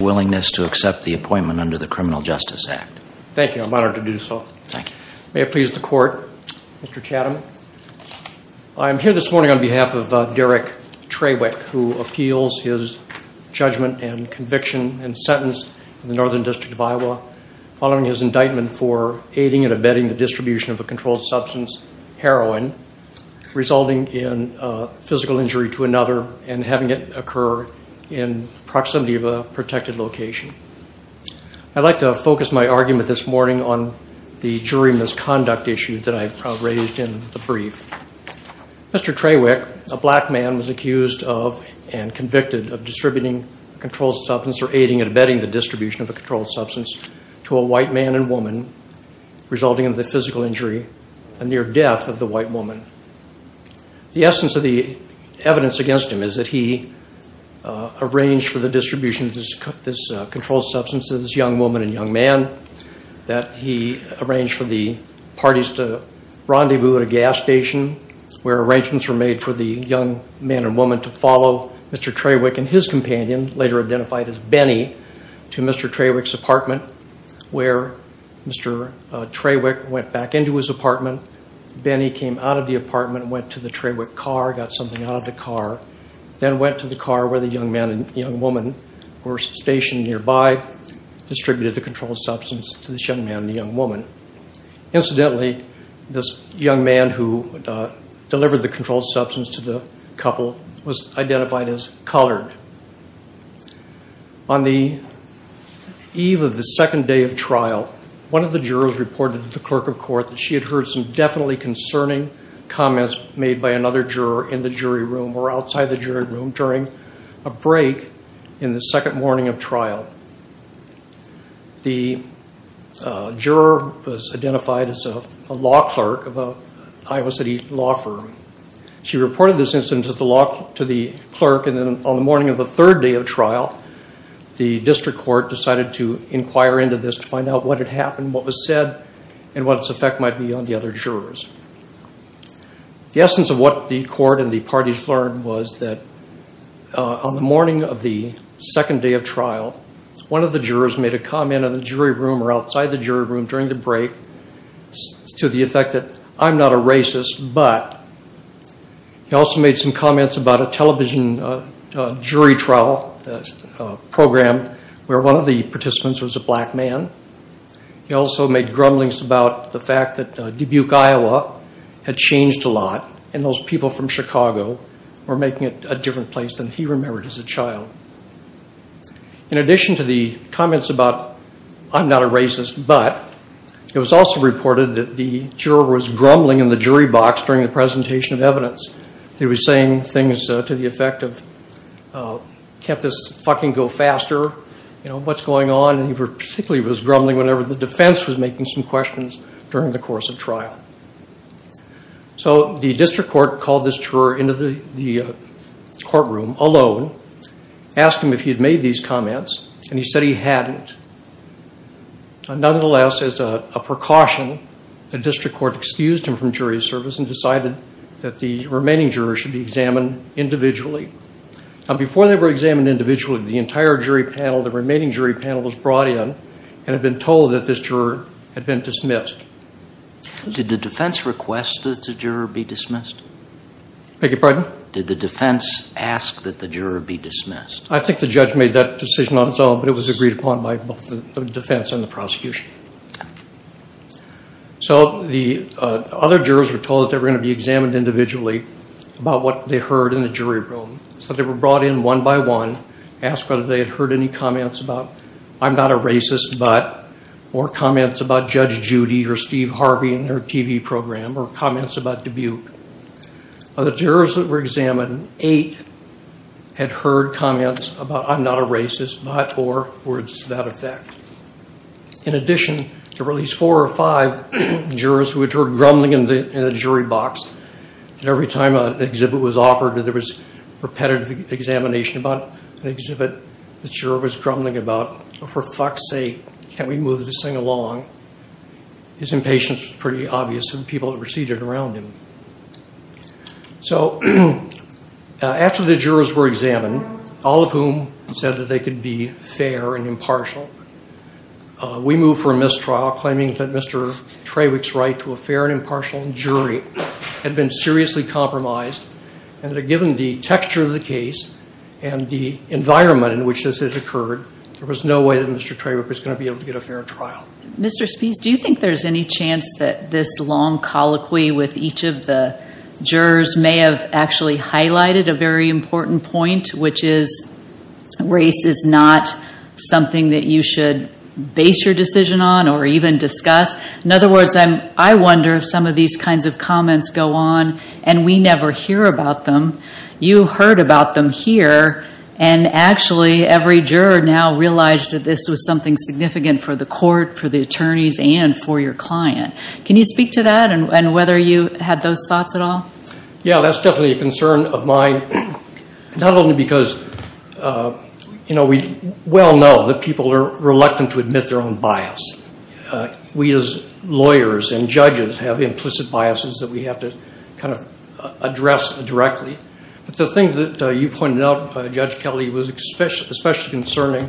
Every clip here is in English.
I am here this morning on behalf of Derrick Trawick who appeals his judgment and conviction and sentence in the Northern District of Iowa following his indictment for aiding and abetting the distribution of a controlled substance, heroin, resulting in physical injury to another and having it occur in proximity of a protected location. I'd like to focus my argument this morning on the jury misconduct issue that I've raised in the brief. Mr. Trawick, a black man, was accused of and convicted of distributing controlled substance or aiding and abetting the distribution of a controlled substance to a white man and woman resulting in the physical injury and near death of the white woman. The essence of the evidence against him is that he arranged for the distribution of this controlled substance to this young woman and young man, that he arranged for the parties to rendezvous at a gas station, where arrangements were made for the young man and woman to follow Mr. Trawick and his companion, later identified as Benny, to Mr. Trawick's apartment where Mr. Trawick went back into his apartment, Benny came out of the apartment, went to the Trawick car, got something out of the car, then went to the car where the young man and young woman were stationed nearby, distributed the controlled substance to this young man and young woman. Incidentally, this young man who delivered the controlled substance to the couple was identified as colored. On the eve of the second day of trial, one of the jurors reported to the clerk of court that she had heard some definitely concerning comments made by another juror in the jury room or outside the jury room during a break in the second morning of trial. The juror was identified as a law clerk of a Iowa City law firm. She reported this instance to the clerk and then on the morning of the third day of trial, the district court decided to inquire into this to find out what had happened, what was said, and what its effect might be on the other jurors. The essence of what the court and the parties learned was that on the morning of the third day of trial, one of the jurors made a comment in the jury room or outside the jury room during the break to the effect that I'm not a racist, but he also made some comments about a television jury trial program where one of the participants was a black man. He also made grumblings about the fact that Dubuque, Iowa had changed a lot and those people from Chicago were making it a different place than he remembered as a child. In addition to the comments about I'm not a racist, but it was also reported that the juror was grumbling in the jury box during the presentation of evidence. He was saying things to the effect of can't this fucking go faster? What's going on? He particularly was grumbling whenever the defense was making some questions during the course of trial. So the defense alone asked him if he had made these comments and he said he hadn't. Nonetheless, as a precaution, the district court excused him from jury service and decided that the remaining jurors should be examined individually. Before they were examined individually, the entire jury panel, the remaining jury panel was brought in and had been told that this juror had been dismissed. Did the defense request that the juror be dismissed? Beg your pardon? Did the defense ask that the juror be dismissed? I think the judge made that decision on its own, but it was agreed upon by both the defense and the prosecution. So the other jurors were told they were going to be examined individually about what they heard in the jury room. So they were brought in one by one, asked whether they had heard any comments about Steve Harvey in their TV program or comments about Dubuque. Of the jurors that were examined, eight had heard comments about I'm not a racist, but or words to that effect. In addition, there were at least four or five jurors who had heard grumbling in the jury box. And every time an exhibit was offered, there was repetitive examination about an exhibit the juror was grumbling about. For fuck's sake, can we move this thing along? His impatience was pretty obvious to the people that were seated around him. So after the jurors were examined, all of whom said that they could be fair and impartial, we moved for a mistrial, claiming that Mr. Trawick's right to a fair and impartial jury had been seriously compromised and that given the texture of the case and the environment in which this had occurred, there was no way that Mr. Trawick was going to be able to get a fair trial. Mr. Spies, do you think there's any chance that this long colloquy with each of the jurors may have actually highlighted a very important point, which is race is not something that you should base your decision on or even discuss? In other words, I wonder if some of these kinds of comments go on and we never hear about them, you heard about them here, and actually every juror now realized that this was something significant for the court, for the attorneys, and for your client. Can you speak to that and whether you had those thoughts at all? Yeah, that's definitely a concern of mine, not only because we well know that people are reluctant to admit their own bias. We as lawyers and judges have implicit biases that we have to kind of address directly. But the thing that you pointed out, Judge Kelly, was especially concerning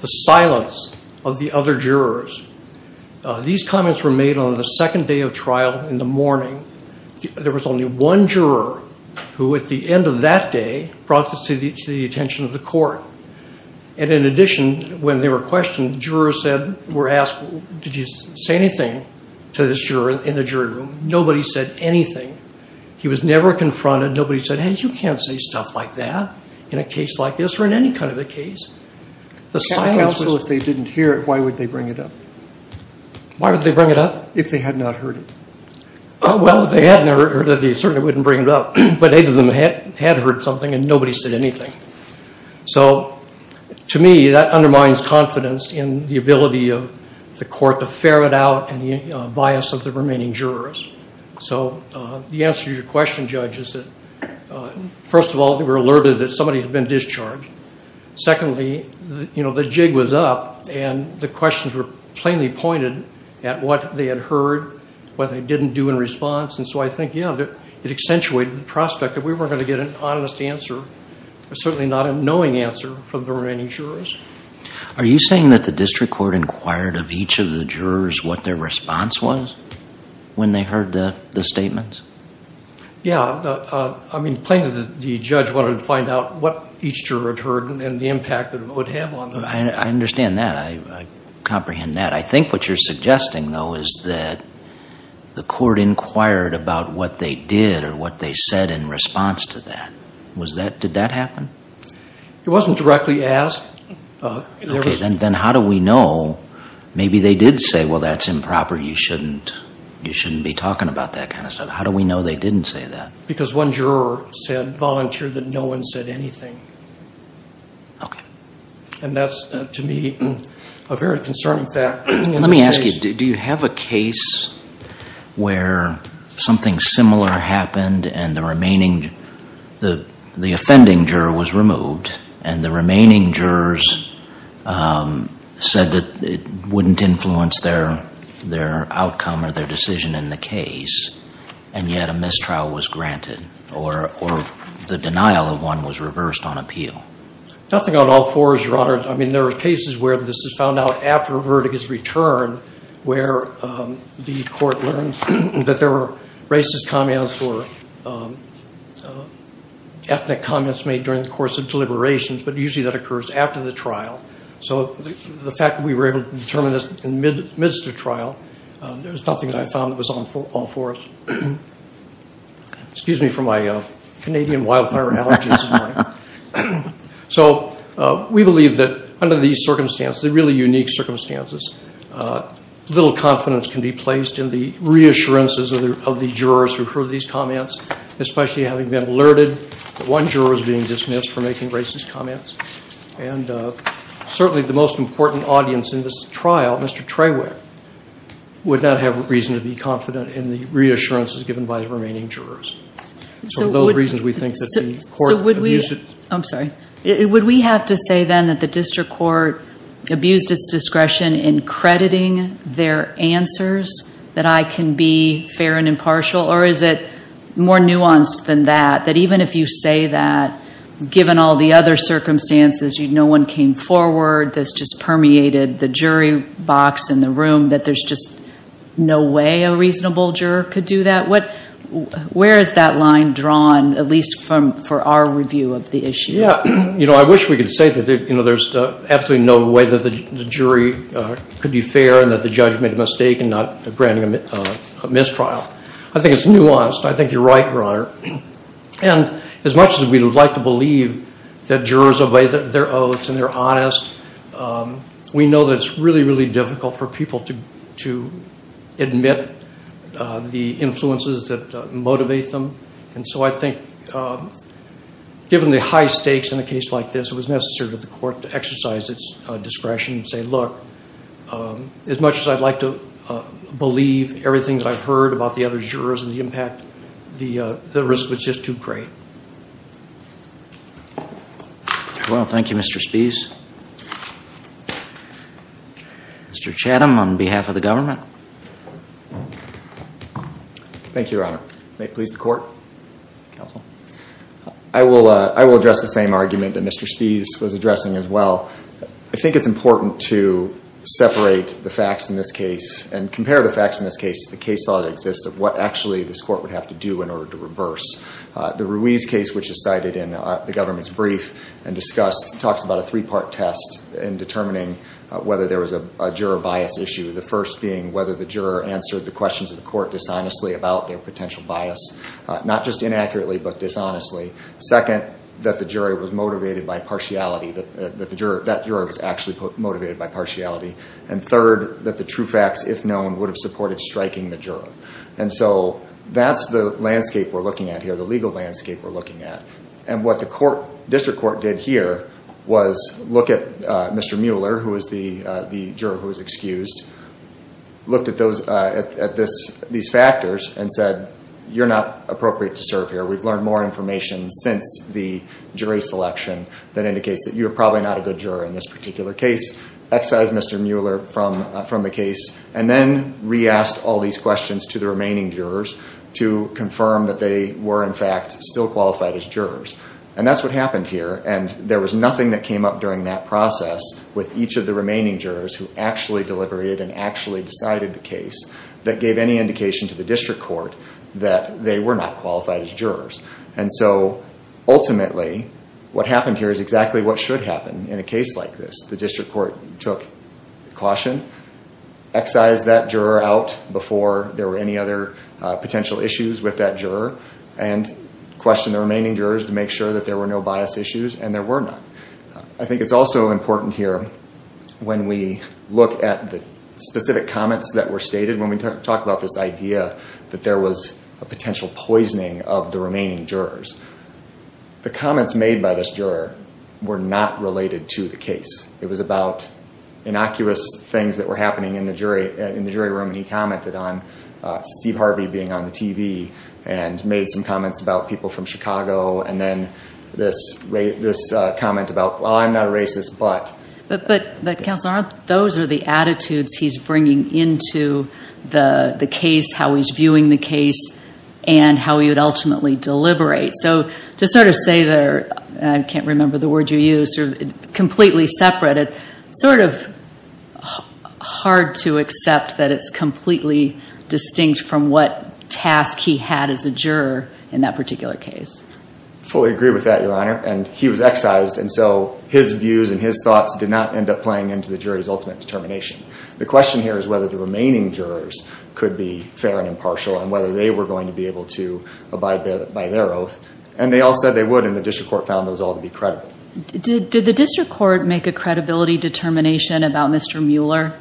the silence of the other jurors. These comments were made on the second day of trial in the morning. There was only one juror who at the end of that day brought this to the attention of the court. And in addition, when they were questioned, the judges were asked, did you say anything to the juror in the jury room? Nobody said anything. He was never confronted. Nobody said, hey, you can't say stuff like that in a case like this or in any kind of a case. Also, if they didn't hear it, why would they bring it up? Why would they bring it up? If they had not heard it. Well, if they hadn't heard it, they certainly wouldn't bring it up. But either of them had heard something and nobody said anything. So to me, that undermines confidence in the ability of the court to ferret out any bias of the remaining jurors. So the answer to your question, Judge, is that first of all, they were alerted that somebody had been discharged. Secondly, the jig was up and the questions were plainly pointed at what they had heard, what they certainly not a knowing answer from the remaining jurors. Are you saying that the district court inquired of each of the jurors what their response was when they heard the statements? Yeah. I mean, plainly the judge wanted to find out what each juror had heard and the impact that it would have on them. I understand that. I comprehend that. I think what you're suggesting, though, is that the court inquired about what they did or what they said in response to that. Did that happen? It wasn't directly asked. Okay. Then how do we know maybe they did say, well, that's improper. You shouldn't be talking about that kind of stuff. How do we know they didn't say that? Because one juror said, volunteered that no one said anything. Okay. And that's, to me, a very concerning fact. Let me ask you, do you have a case where something similar happened and the remaining, the offending juror was removed and the remaining jurors said that it wouldn't influence their outcome or their decision in the case, and yet a mistrial was granted or the denial of one was reversed on appeal? Nothing on all fours, Your Honor. I mean, there are cases where this is found out after a verdict is returned where the court learns that there were racist comments or ethnic comments made during the course of deliberations, but usually that occurs after the trial. So the fact that we were able to determine this in the midst of trial, there was nothing that I found that was on all fours. Excuse me for my Canadian wildfire allergies. So we believe that under these circumstances, the really unique circumstances, little confidence can be placed in the reassurances of the jurors who heard these comments, especially having been alerted that one juror is being dismissed for making racist comments. And certainly the most important audience in this trial, Mr. Treywick, would not have reason to be confident in the reassurances given by the remaining jurors. So those reasons we think that the court abused it. I'm sorry. Would we have to say then that the district court abused its discretion in crediting their answers, that I can be fair and impartial? Or is it more nuanced than that, that even if you say that, given all the other circumstances, no one came forward, this just permeated the jury box in the room, that there's just no way a reasonable juror could do that? Where is that line drawn, at least for our review of the issue? Yeah. You know, I wish we could say that there's absolutely no way that the jury could be fair and that the judge made a mistake in not granting a mistrial. I think it's nuanced. I think you're right, Your Honor. And as much as we would like to believe that jurors obey their oaths and they're honest, we know that it's really, really difficult for people to admit the influences that motivate them. And so I think given the high stakes in a case like this, it was necessary for the court to exercise its discretion and say, look, as much as I'd like to have heard about the other jurors and the impact, the risk was just too great. Well, thank you, Mr. Spies. Mr. Chatham, on behalf of the government. Thank you, Your Honor. May it please the court? Counsel. I will address the same argument that Mr. Spies was addressing as well. I think it's important to separate the facts in this case and compare the facts in this case to the case law that exists of what actually this court would have to do in order to reverse. The Ruiz case, which is cited in the government's brief and discussed, talks about a three part test in determining whether there was a juror bias issue. The first being whether the juror answered the questions of the court dishonestly about their potential bias, not just inaccurately, but dishonestly. Second, that the jury was motivated by partiality, that that juror was actually motivated by partiality. And third, that the true facts, if known, would have supported striking the juror. And so that's the landscape we're looking at here, the legal landscape we're looking at. And what the district court did here was look at Mr. Mueller, who is the juror who was excused, looked at these factors and said, you're not appropriate to serve here. We've learned more information since the jury selection that indicates that you're probably not a good juror in this particular case. Excised Mr. Mueller from the case, and then re-asked all these questions to the remaining jurors to confirm that they were, in fact, still qualified as jurors. And that's what happened here, and there was nothing that came up during that process with each of the remaining jurors who actually deliberated and actually decided the case that gave any indication to the district court that they were not qualified as jurors. And so, ultimately, what happened here is exactly what should happen in a case like this. The district court took caution, excised that juror out before there were any other potential issues with that juror, and questioned the remaining jurors to make sure that there were no bias issues, and there were not. I think it's also important here, when we look at the specific comments that were stated, when we talk about this idea that there was a potential poisoning of the remaining jurors, the comments made by this juror were not related to the case. It was about innocuous things that were happening in the jury room, and he commented on Steve Harvey being on the TV, and made some comments about people from Chicago, and then this comment about, well, I'm not a racist, but. But, Counselor Arndt, those are the attitudes he's bringing into the case, how he's viewing the case, and how he would ultimately deliberate. So, to sort of say there, I can't remember the word you used, completely separate it, sort of hard to accept that it's completely distinct from what task he had as a juror in that particular case. Fully agree with that, Your Honor, and he was excised, and so his views and his thoughts did not end up playing into the jury's ultimate determination. The question here is whether the remaining jurors could be fair and impartial, and whether they were going to be able to abide by their oath, and they all said they would, and the district court found those all to be credible. Did the district court make a credibility determination about Mr. Mueller?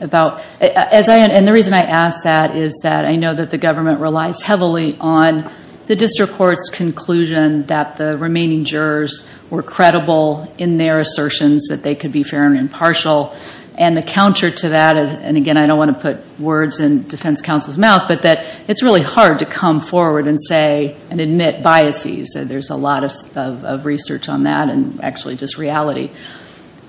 About, and the reason I ask that is that I know that the government relies heavily on the district court's conclusion that the remaining jurors were credible in their assertions that they could be fair and impartial. And the counter to that, and again, I don't want to put words in defense counsel's mouth, but that it's really hard to come forward and say, and admit biases, and there's a lot of research on that, and actually just reality.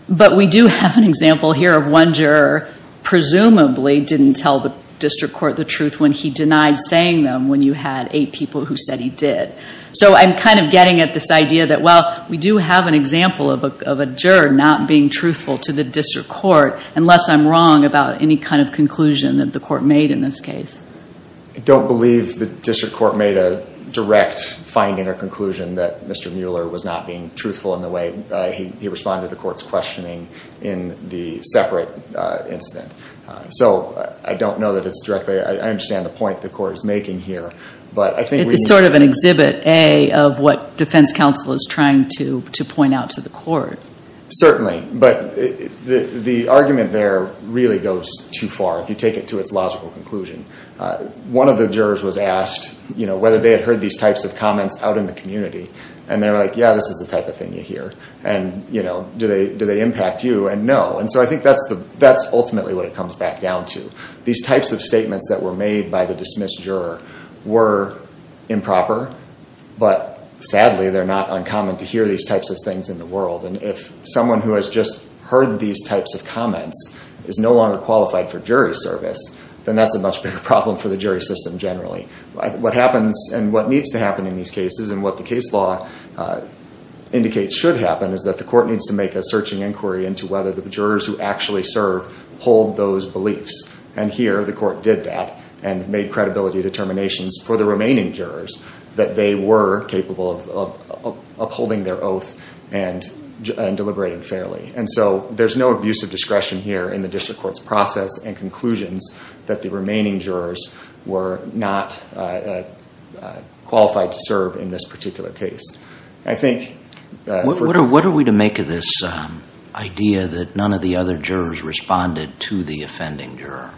But we do have an example here of one juror, presumably didn't tell the district court the truth when he denied saying them, when you had eight people who said he did. So I'm kind of getting at this idea that, well, we do have an example of a juror not being truthful to the district court, unless I'm wrong about any kind of conclusion that the court made in this case. I don't believe the district court made a direct finding or conclusion that Mr. Mueller was not being truthful in the way he responded to the court's questioning in the separate incident. So I don't know that it's directly, I understand the point the court is making here. But I think we need- It's sort of an exhibit, A, of what defense counsel is trying to point out to the court. Certainly, but the argument there really goes too far, if you take it to its logical conclusion. One of the jurors was asked whether they had heard these types of comments out in the community. And they were like, yeah, this is the type of thing you hear. And do they impact you? And no. And so I think that's ultimately what it comes back down to. These types of statements that were made by the dismissed juror were improper. But sadly, they're not uncommon to hear these types of things in the world. And if someone who has just heard these types of comments is no longer qualified for jury service, then that's a much bigger problem for the jury system generally. What happens and what needs to happen in these cases, and what the case law indicates should happen, is that the court needs to make a searching inquiry into whether the jurors who actually serve hold those beliefs. And here, the court did that and made credibility determinations for the remaining jurors that they were capable of upholding their oath and deliberating fairly. And so there's no abuse of discretion here in the district court's process and conclusions that the remaining jurors were not qualified to serve in this particular case. I think- What are we to make of this idea that none of the other jurors responded to the offending juror?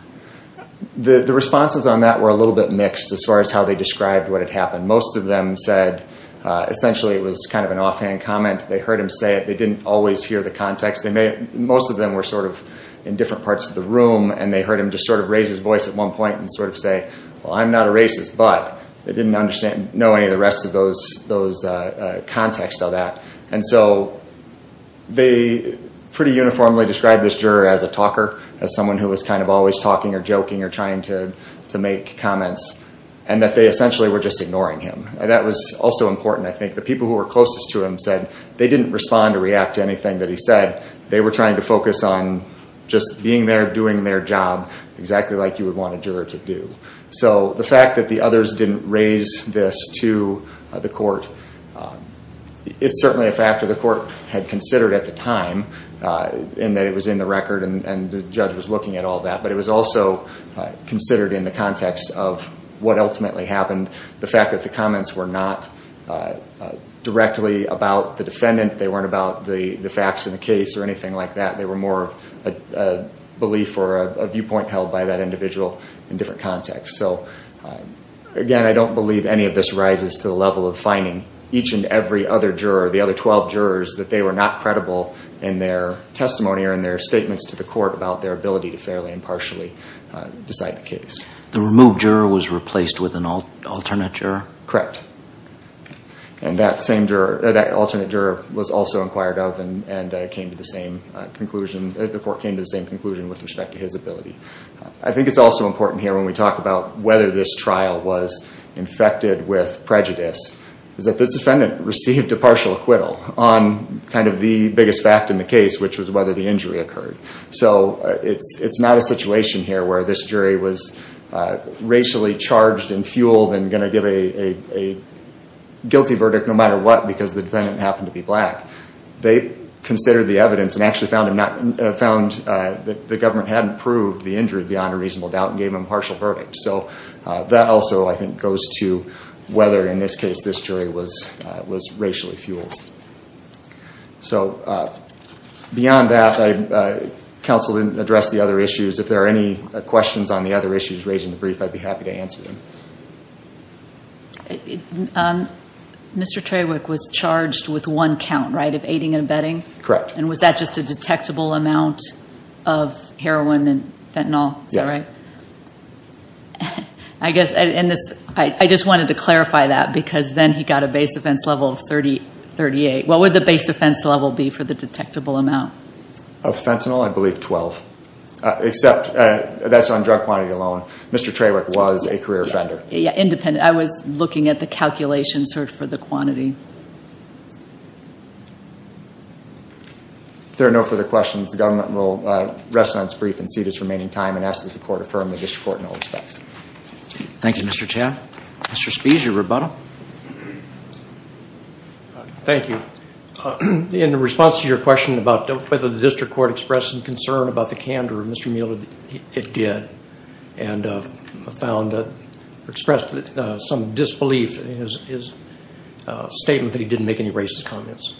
The responses on that were a little bit mixed as far as how they described what had happened. Most of them said essentially it was kind of an offhand comment. They heard him say it. They didn't always hear the context. Most of them were sort of in different parts of the room, and they heard him just sort of raise his voice at one point and sort of say, well, I'm not a racist, but they didn't know any of the rest of those contexts of that. And so they pretty uniformly described this juror as a talker, as someone who was kind of always talking or joking or trying to make comments, and that they essentially were just ignoring him. And that was also important, I think. The people who were closest to him said they didn't respond or react to anything that he said. They were trying to focus on just being there doing their job exactly like you would want a juror to do. So the fact that the others didn't raise this to the court, it's certainly a factor the court had considered at the time in that it was in the record and the judge was looking at all that. But it was also considered in the context of what ultimately happened, the fact that the comments were not directly about the defendant. They weren't about the facts in the case or anything like that. They were more of a belief or a viewpoint held by that individual in different contexts. So again, I don't believe any of this rises to the level of fining each and every other juror, the other 12 jurors, that they were not credible in their testimony or in their statements to the court about their ability to fairly and partially decide the case. The removed juror was replaced with an alternate juror? Correct. And that same juror, that alternate juror was also inquired of and came to the same conclusion, the court came to the same conclusion with respect to his ability. I think it's also important here when we talk about whether this trial was infected with prejudice, is that this defendant received a partial acquittal on kind of the biggest fact in the case, which was whether the injury occurred. So it's not a situation here where this jury was racially charged and fueled and going to give a guilty verdict no matter what because the defendant happened to be black. They considered the evidence and actually found that the government hadn't proved the injury beyond a reasonable doubt and gave them a partial verdict. So that also, I think, goes to whether, in this case, this jury was racially fueled. So beyond that, counsel didn't address the other issues. If there are any questions on the other issues raised in the brief, I'd be happy to answer them. Mr. Trawick was charged with one count, right, of aiding and abetting? Correct. And was that just a detectable amount of heroin and fentanyl? Yes. Is that right? I just wanted to clarify that because then he got a base offense level of 38. What would the base offense level be for the detectable amount? Of fentanyl? I believe 12, except that's on drug quantity alone. Mr. Trawick was a career offender. Yeah, independent. I was looking at the calculation search for the quantity. If there are no further questions, the government will rest on its brief and cede its remaining time and ask that the court affirm the district court in all respects. Thank you, Mr. Chan. Mr. Spies, your rebuttal. Thank you. In response to your question about whether the district court expressed some concern about the candor of Mr. Mueller, it did and expressed some disbelief in his statement that he didn't make any racist comments.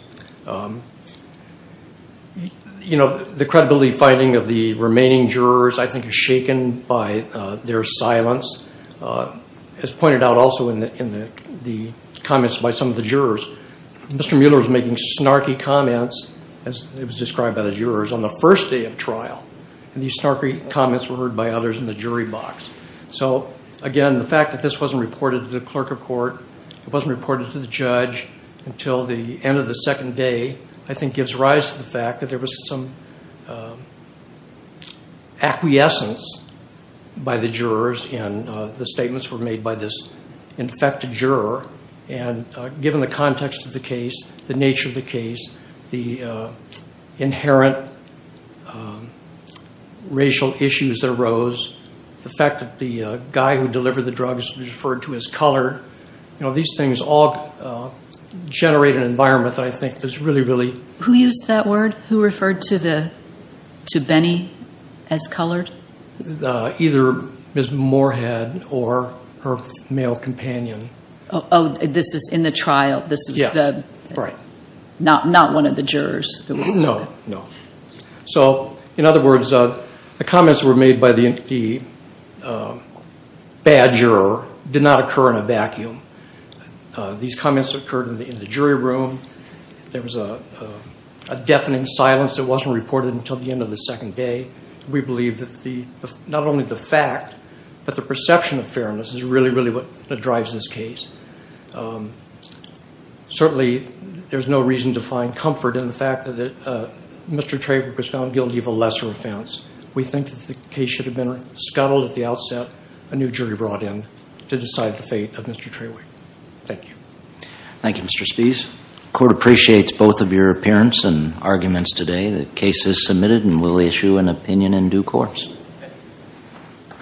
The credibility finding of the remaining jurors, I think, is shaken by their silence. As pointed out also in the comments by some of the jurors, Mr. Mueller was making snarky comments, as it was described by the jurors, on the first day of trial, and these snarky comments were heard by others in the jury box. So, again, the fact that this wasn't reported to the clerk of court, it wasn't reported to the judge until the end of the second day, I think, gives rise to the fact that there was some acquiescence by the jurors, and the statements were made by this infected juror. And given the context of the case, the nature of the case, the inherent racial issues that arose, the fact that the guy who delivered the drugs was referred to as colored, you know, these things all generate an environment that I think is really, really. Who used that word? Who referred to Benny as colored? Either Ms. Moorhead or her male companion. Oh, this is in the trial. Yes, right. Not one of the jurors. No, no. So, in other words, the comments that were made by the bad juror did not occur in a vacuum. These comments occurred in the jury room. There was a deafening silence that wasn't reported until the end of the second day. We believe that not only the fact, but the perception of fairness is really, really what drives this case. Certainly, there's no reason to find comfort in the fact that Mr. Traway was found guilty of a lesser offense. We think that the case should have been scuttled at the outset, a new jury brought in to decide the fate of Mr. Traway. Thank you. Thank you, Mr. Spies. The court appreciates both of your appearance and arguments today. The case is submitted and will issue an opinion in due course. Thank you.